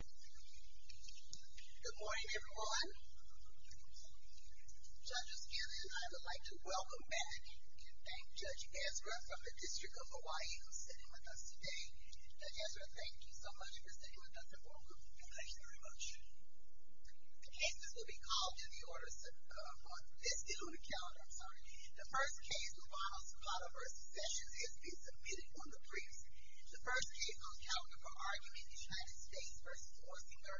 Good morning everyone. Judge O'Scanlan and I would like to welcome back and thank Judge Ezra from the District of Hawaii who is sitting with us today. Judge Ezra, thank you so much for sitting with us and welcome. Thank you very much. The cases will be called in the order set upon this day on the calendar, I'm sorry. The first case, Lujano-Sapato v. Sessions, is to be submitted on the briefs. The first case on the calendar for argument is United States v. Orsinger.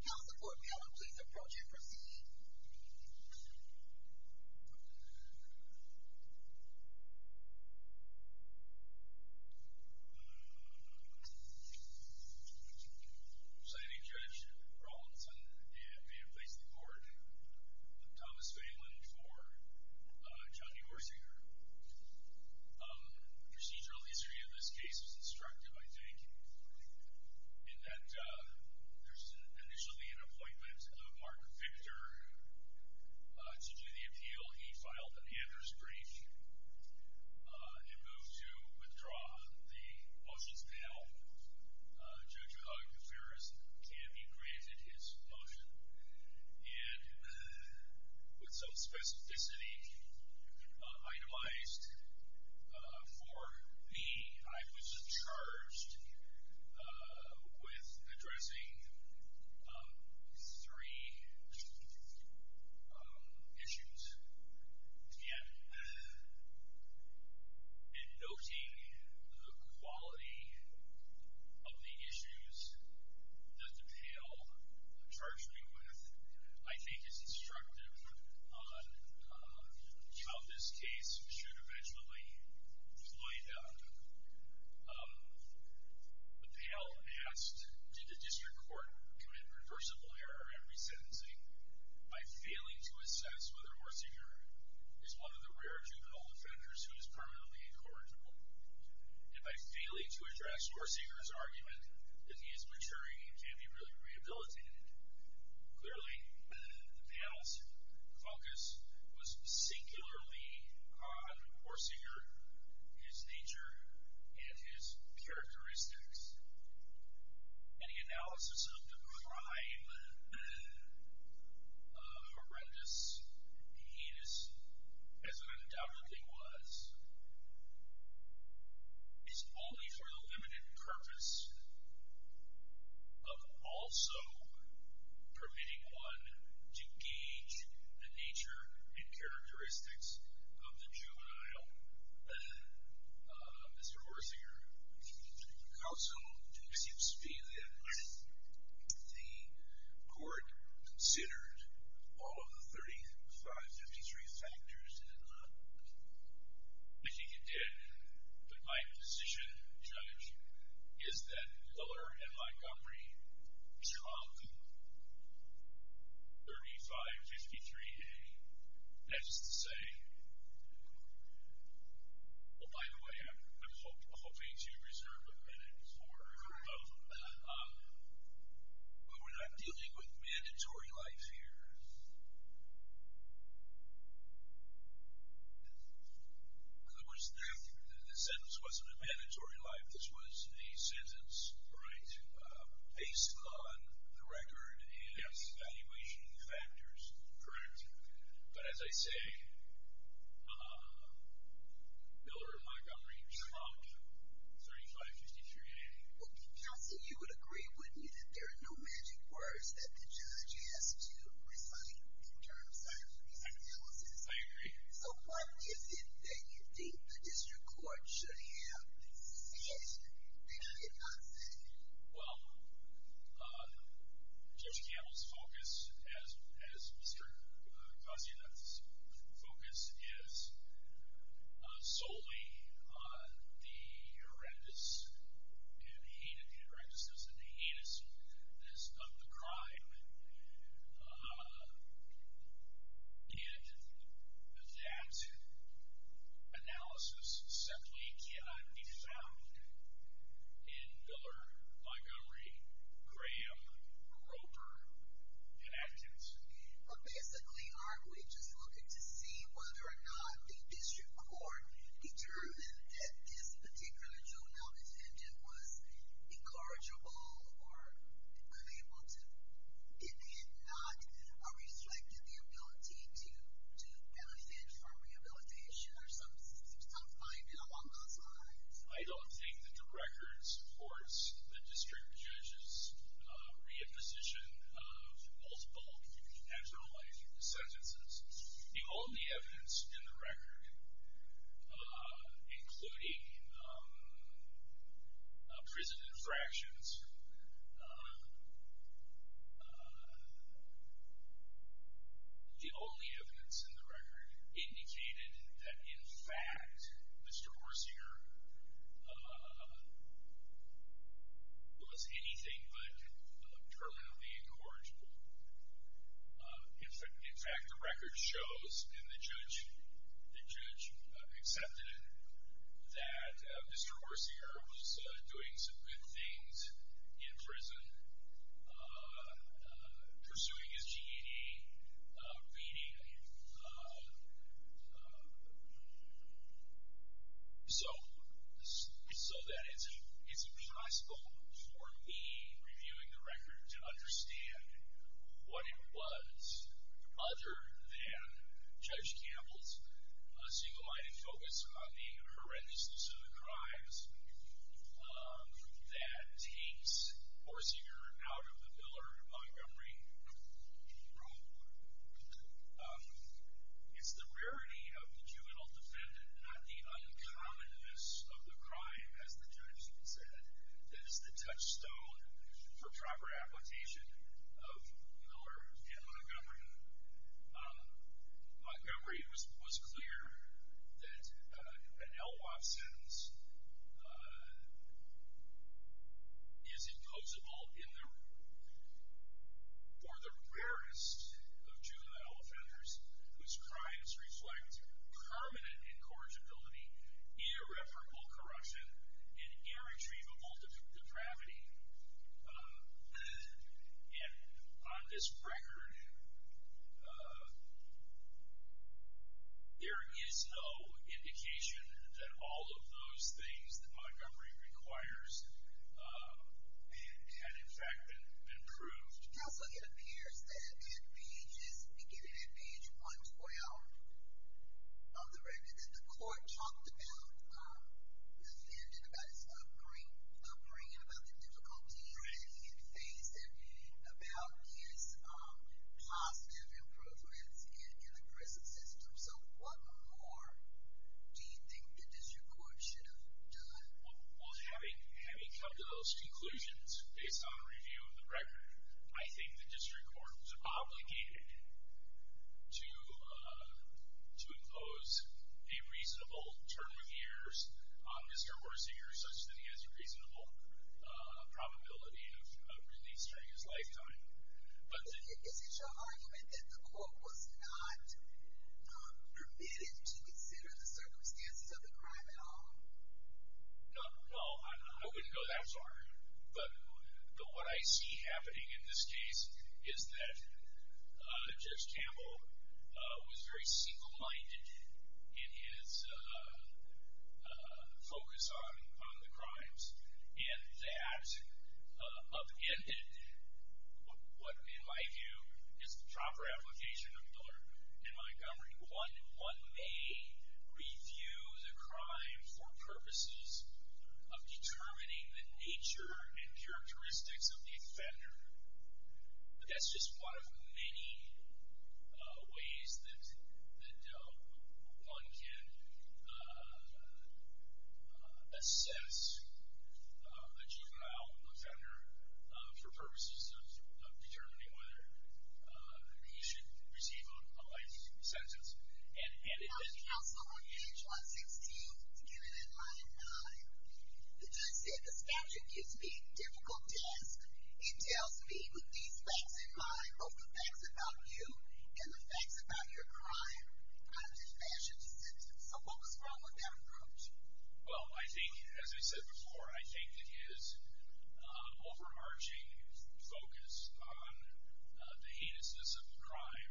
Counsel to the Court, may I please approach and proceed? Signing Judge Rawlinson and may it please the Court, Thomas Phelan for Johnny Orsinger. Procedural history of this case is instructive, I think, in that there's initially an appointment of Mark Victor to do the appeal. He filed an Anders brief and moved to withdraw the motions now. Judge O'Connor can be granted his motion. And with some specificity itemized for me, I was charged with addressing three issues. And in noting the quality of the issues that the pale charged me with, I think it's instructive on how this case should eventually play out. The pale asked, did the district court commit reversible error in resentencing by failing to assess whether Orsinger is one of the rare juvenile offenders who is permanently incorrigible? And by failing to address Orsinger's argument that he is maturing and can be really rehabilitated. Clearly, the pale's focus was singularly on Orsinger, his nature, and his characteristics. And the analysis of the crime, horrendous, heinous, as it undoubtedly was, is only for the limited purpose of also permitting one to gauge the nature and characteristics of the juvenile, Mr. Orsinger. Counsel, it seems to me that the court considered all of the 3553 factors, did it not? I think it did. But my position, Judge, is that Miller and Montgomery struck 3553A. That is to say, well, by the way, I'm hoping to reserve a minute for, but we're not dealing with mandatory life here. In other words, the sentence wasn't a mandatory life. This was a sentence based on the record and the evaluation factors. Correct. But as I say, Miller and Montgomery struck 3553A. Counsel, you would agree, wouldn't you, that there are no magic words that the judge has to recite in terms of these analyses? I agree. So what is it that you think the district court should have said that it did not say? Well, Judge Campbell's focus, as Mr. Koczynek's focus, is solely on the horrendous and heinous, the horrendousness and the heinousness of the crime. And that analysis simply cannot be found in Miller, Montgomery, Graham, Roper, and Atkinson. But basically, aren't we just looking to see whether or not the district court determined that this particular juvenile defendant was incorrigible or unable to, it had not reflected the ability to benefit from rehabilitation or some finding along those lines? I don't think that the record supports the district judge's reimposition of multiple natural life sentences. The only evidence in the record, including prison infractions, the only evidence in the record indicated that, in fact, Mr. Horsinger was anything but terminally incorrigible. In fact, the record shows, and the judge accepted it, that Mr. Horsinger was doing some good things in prison, pursuing his GED, beating him. So that it's impossible for me, reviewing the record, to understand what it was other than Judge Campbell's single-minded focus on the horrendousness of the crimes that takes Horsinger out of the Miller, Montgomery role. It's the rarity of the juvenile defendant, not the uncommonness of the crime, as the judge said, that is the touchstone for proper application of Miller and Montgomery. Montgomery was clear that an LWOP sentence is imposable for the rarest of juvenile offenders, whose crimes reflect permanent incorrigibility, irreparable corruption, and irretrievable depravity. And on this record, there is no indication that all of those things that Montgomery requires had, in fact, been proved. Counsel, it appears that at pages, beginning at page 112 of the record, that the court talked about the defendant, about his upbringing, about the difficulties that he had faced, and about his positive improvements in the prison system. So what more do you think the district court should have done? Well, having come to those conclusions, based on a review of the record, I think the district court was obligated to impose a reasonable term of years on Mr. Horsinger, such that he has a reasonable probability of release during his lifetime. Is it your argument that the court was not permitted to consider the circumstances of the crime at all? No. Well, I wouldn't go that far. But what I see happening in this case is that Judge Campbell was very single-minded in his focus on the crimes, and that upended what, in my view, is the proper application of Miller and Montgomery. One may review the crime for purposes of determining the nature and characteristics of the offender, but that's just one of many ways that one can assess a juvenile offender for purposes of determining whether he should receive a life sentence. Now, counsel, on page 116, given in line 9, the judge said, the statute gives me a difficult task. It tells me, with these facts in mind, both the facts about you and the facts about your crime, how to dispatch a descent. So what was wrong with that approach? Well, I think, as I said before, I think that his overarching focus on the heinousness of the crime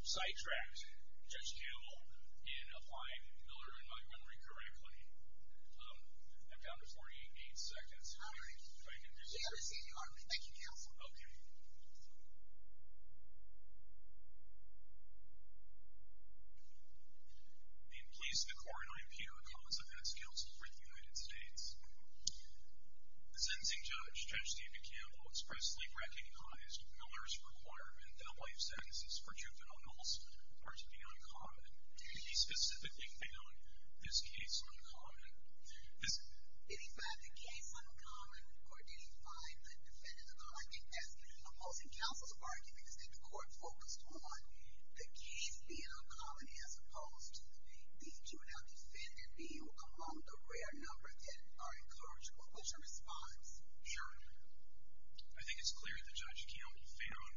sidetracked Judge Campbell in applying Miller and Montgomery correctly. I'm down to 48 seconds. All right. Thank you, counsel. Okay. Thank you. I'm pleased the court and I'm here on behalf of counsel for the United States. The sentencing judge, Judge David Campbell, expressly recognized Miller's requirement that life sentences for juveniles are to be uncommon. He specifically found this case uncommon. Did he find the case uncommon or did he find the defendant uncommon? I think as opposing counsels are arguing, I think the court focused on the case being uncommon as opposed to the juvenile defendant being among the rare number that are encouraged. What's your response, Aaron? I think it's clear that Judge Campbell found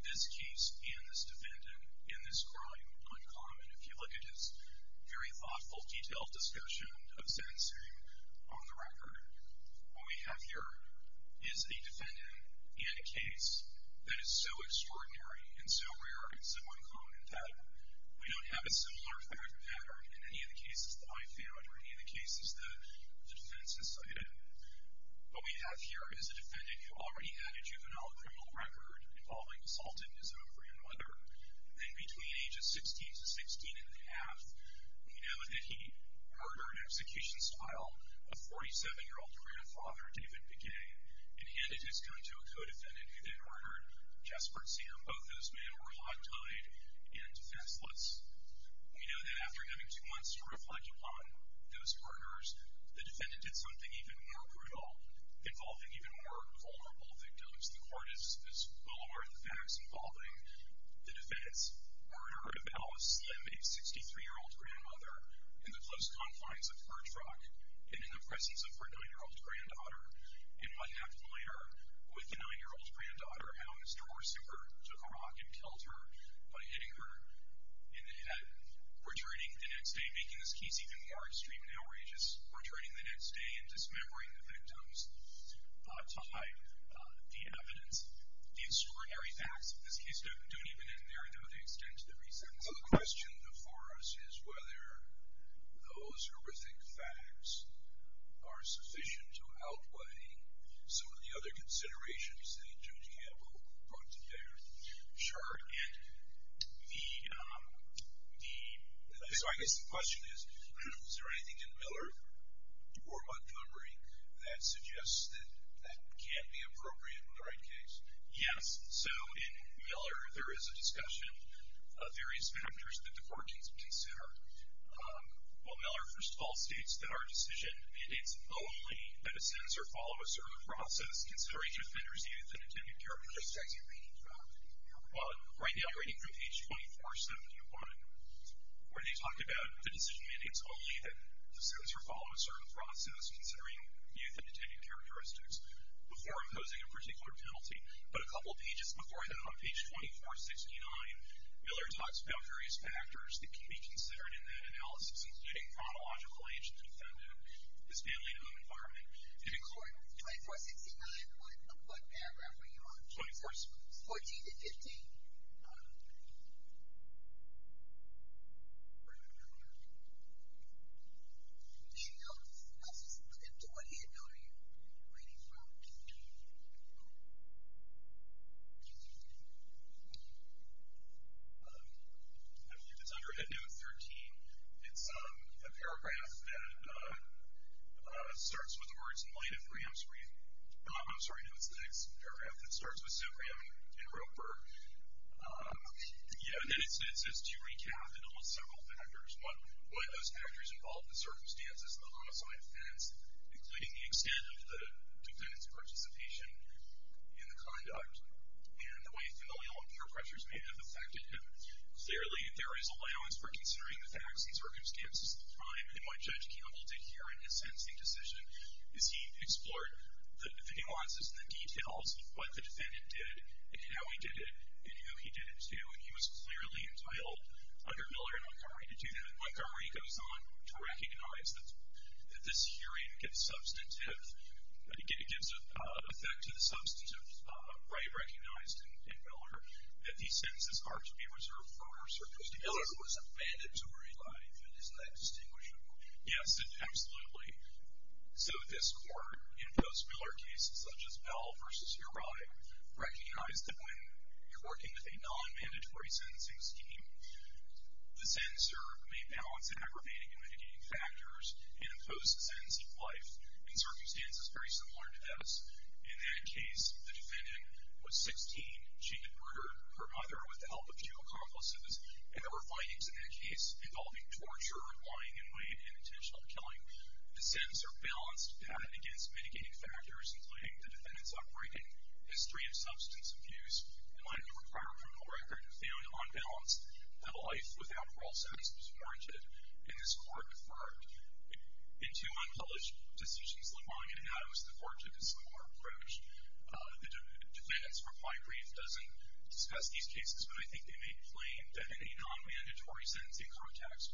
this case and this defendant and this crime uncommon. If you look at his very thoughtful, detailed discussion of sentencing on the record, what we have here is a defendant and a case that is so extraordinary and so rare and so uncommon that we don't have a similar fact pattern in any of the cases that I found or any of the cases that the defense has cited. What we have here is a defendant who already had a juvenile criminal record involving assaulting his own friend and mother, then between ages 16 to 16 1⁄2, we know that he murdered in execution style a 47-year-old grandfather, David Begay, and handed his gun to a co-defendant who then murdered Jespert Singer. Both those men were hot tied and defenseless. We know that after having two months to reflect upon those murders, the defendant did something even more brutal involving even more vulnerable victims. The court is well aware of the facts involving the defense. Murder of Alice Slim, a 63-year-old grandmother, in the close confines of Birch Rock and in the presence of her 9-year-old granddaughter. And what happened later with the 9-year-old granddaughter, how Ms. Dorsey took a rock and killed her by hitting her in the head. Returning the next day, making this case even more extreme and outrageous, returning the next day and dismembering the victims tied the evidence. The extraordinary facts of this case don't even end there, though. They extend to the recess. The question before us is whether those horrific facts are sufficient to outweigh some of the other considerations that Judge Campbell brought to bear. Sure. So I guess the question is, is there anything in Miller or Montgomery that suggests that that can't be appropriate in the right case? Yes. So in Miller, there is a discussion of various factors that the court needs to consider. Well, Miller, first of all, states that our decision mandates only that a senator follow a certain process considering the defender's youth and intended purpose. What exactly are you reading from? Well, right now you're reading from page 2471, where they talk about the decision mandates only that the senator follow a certain process considering youth and intended characteristics before imposing a particular penalty. But a couple of pages before that on page 2469, Miller talks about various factors that can be considered in that analysis, including chronological age of the defendant, his family and home environment. 2469, what paragraph were you on? 14 to 15. Did you notice? And what age note are you reading from? I believe it's under age note 13. It's a paragraph that starts with the words, in light of Graham's brief. I'm sorry, no, it's the next paragraph that starts with, so Graham and Roper. Yeah, and then it says to recap in almost several factors. One, why those factors involve the circumstances and the loss on offense, including the extent of the defendant's participation in the conduct, and the way familial and peer pressures may have affected him. Clearly, there is allowance for considering the facts and circumstances of the crime, and what Judge Campbell did here in his sentencing decision is he explored the nuances and the details of what the defendant did and how he did it and who he did it to, and he was clearly entitled under Miller and Montgomery to do that. Montgomery goes on to recognize that this hearing gets substantive. It gives effect to the substantive right recognized in Miller that these sentences are to be reserved for circumstances. Miller was a mandatory life, and isn't that distinguishable? Yes, absolutely. So this Court, in post-Miller cases such as Bell v. Uribe, recognized that when you're working with a non-mandatory sentencing scheme, the censor may balance aggravating and mitigating factors and impose the sentence of life in circumstances very similar to this. In that case, the defendant was 16. She had murdered her mother with the help of two accomplices, and there were findings in that case involving torture, lying in wait, and intentional killing. The sentences are balanced against mitigating factors, including the defendant's upbringing, history of substance abuse, and might have a prior criminal record of failing on balance, that a life without parole status was warranted, and this Court deferred. In two unpublished decisions, LeMoyne and Adams, the Court took a similar approach. The defendants' reply brief doesn't discuss these cases, but I think they make plain that in a non-mandatory sentencing context,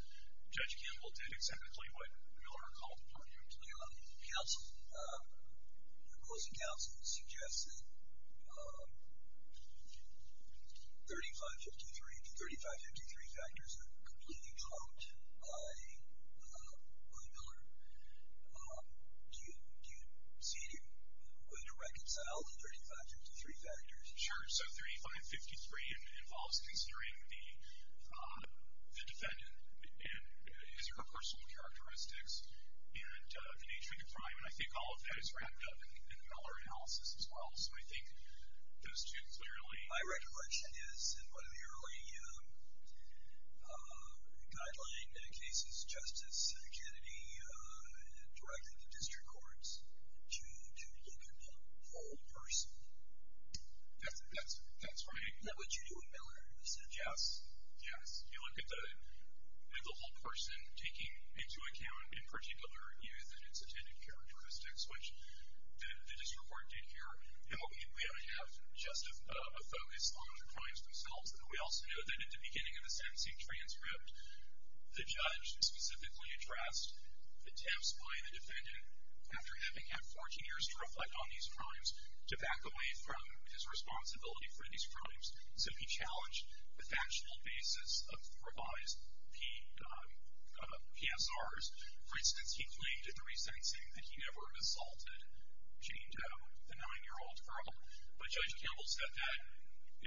Judge Campbell did exactly what Miller called upon him to do. The opposing counsel suggests that 3553 to 3553 factors are completely trumped by William Miller. Do you see a way to reconcile the 3553 factors? Sure. So 3553 involves considering the defendant and his or her personal characteristics and the nature of the crime, and I think all of that is wrapped up in the Miller analysis as well. So I think those two clearly... My recollection is in one of the early guideline cases, Justice Kennedy directed the district courts to look at the whole person. That's right. That's what you do in Miller. Yes, yes. You look at the whole person, taking into account, in particular, youth and its attendant characteristics, which the district court did here. And we only have just a focus on the crimes themselves, and we also know that at the beginning of the sentencing transcript, the judge specifically addressed attempts by the defendant, after having had 14 years to reflect on these crimes, to back away from his responsibility for these crimes. So he challenged the factual basis of the revised PSRs. For instance, he claimed in the resentencing that he never assaulted Jane Doe, the 9-year-old girl. But Judge Campbell said that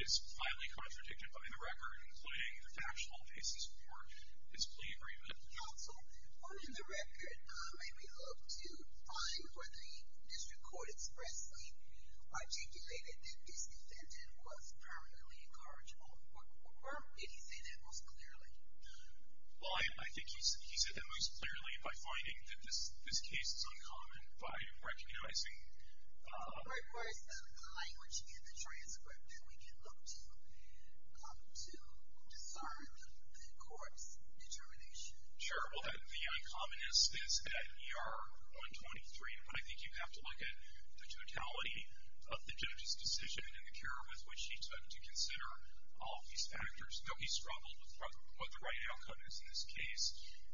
is highly contradicted by the record, including the factual basis for his plea agreement. Counsel, on the record, may we look to find whether the district court expressly articulated that this defendant was permanently incorrigible, or did he say that most clearly? Well, I think he said that most clearly by finding that this case is uncommon, and by recognizing the language in the transcript that we can look to to discern the corpse determination. Sure. Well, the uncommonness is at ER 123, but I think you have to look at the totality of the judge's decision and the care with which he took to consider all of these factors. No, he struggled with what the right outcome is in this case.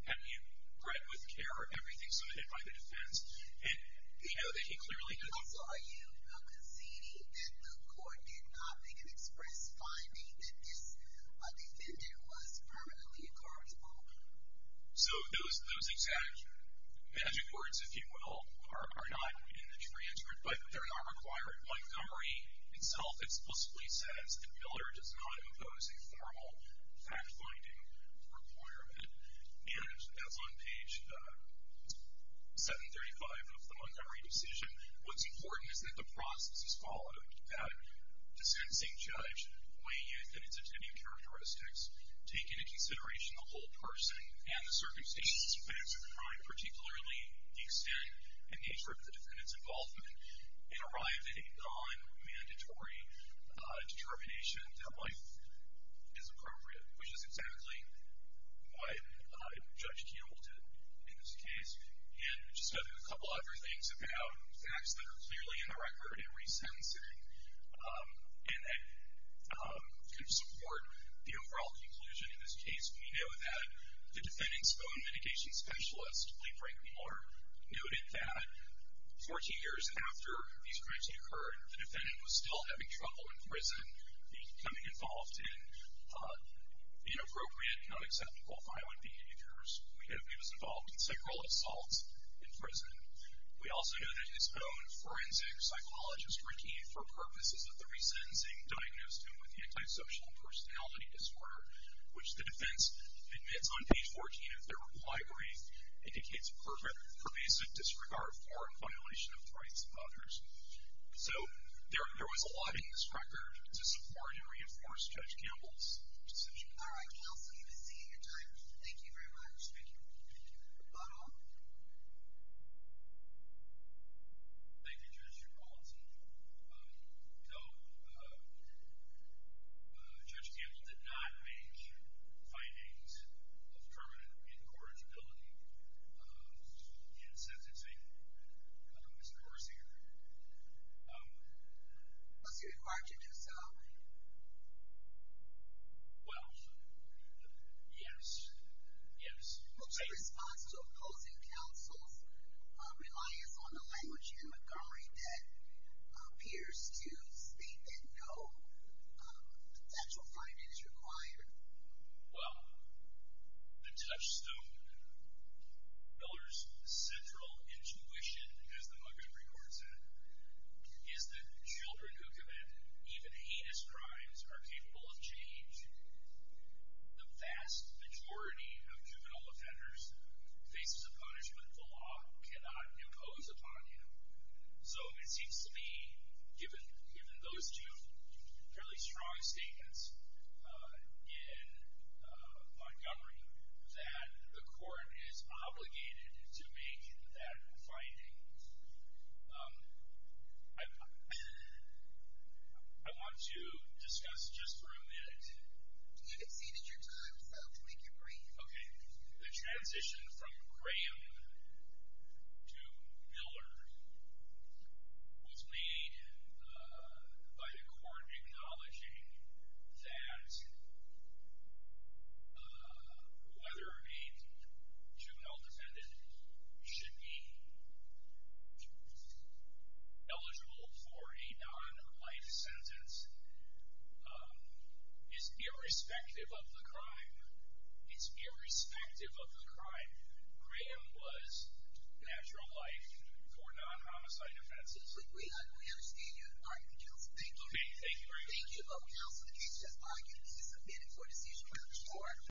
Had he read with care everything submitted by the defense, he'd know that he clearly did not. Counsel, are you conceding that the court did not make an express finding that this defendant was permanently incorrigible? So those exact magic words, if you will, are not in the transcript, but they're not required. Montgomery itself explicitly says that Miller does not impose a formal fact-finding requirement. And that's on page 735 of the Montgomery decision. What's important is that the process is followed. That dissenting judge weighed in on its attending characteristics, taking into consideration the whole person and the circumstances of the crime, particularly the extent and nature of the defendant's involvement, and arrived at a non-mandatory determination that life is appropriate, which is exactly what Judge Kuehl did in this case. And just a couple other things about facts that are clearly in the record and resentencing and that kind of support the overall conclusion in this case. We know that the defendant's bone mitigation specialist, Lee Franklin Miller, noted that 14 years after these crimes had occurred, the defendant was still having trouble in prison, becoming involved in inappropriate, unacceptable violent behaviors. We know he was involved in several assaults in prison. We also know that his own forensic psychologist, Ricky, for purposes of the resentencing, diagnosed him with antisocial personality disorder, which the defense admits on page 14 of their reply brief, indicates pervasive disregard for and violation of the rights of others. So there was a lot in this record to support and reinforce Judge Campbell's position. All right. Counsel, you've been seeing your time. Thank you very much. Thank you. Thank you. Otto? Thank you, Judge. Your policy. So Judge Campbell did not make findings of permanent incorrigibility in sentencing. Mr. Hersinger? Was he required to do so? Well, yes. Yes. What's your response to opposing counsel's reliance on the language in Montgomery that appears to state that no factual finding is required? Well, the touchstone, Miller's central intuition, as the Montgomery court said, is that children who commit even heinous crimes are capable of change. The vast majority of juvenile offenders faces a punishment the law cannot impose upon you. So it seems to me, given those two fairly strong statements in Montgomery, that the court is obligated to make that finding. I want to discuss just for a minute the transition from Graham to Miller. What's made by the court acknowledging that whether a juvenile defendant should be eligible for a non-life sentence is irrespective of the crime. It's irrespective of the crime. Graham was natural life for non-homicide offenses. We understand your argument, counsel. Thank you. Thank you very much. Thank you both, counsel. The case has argued and is submitted for decision by the court.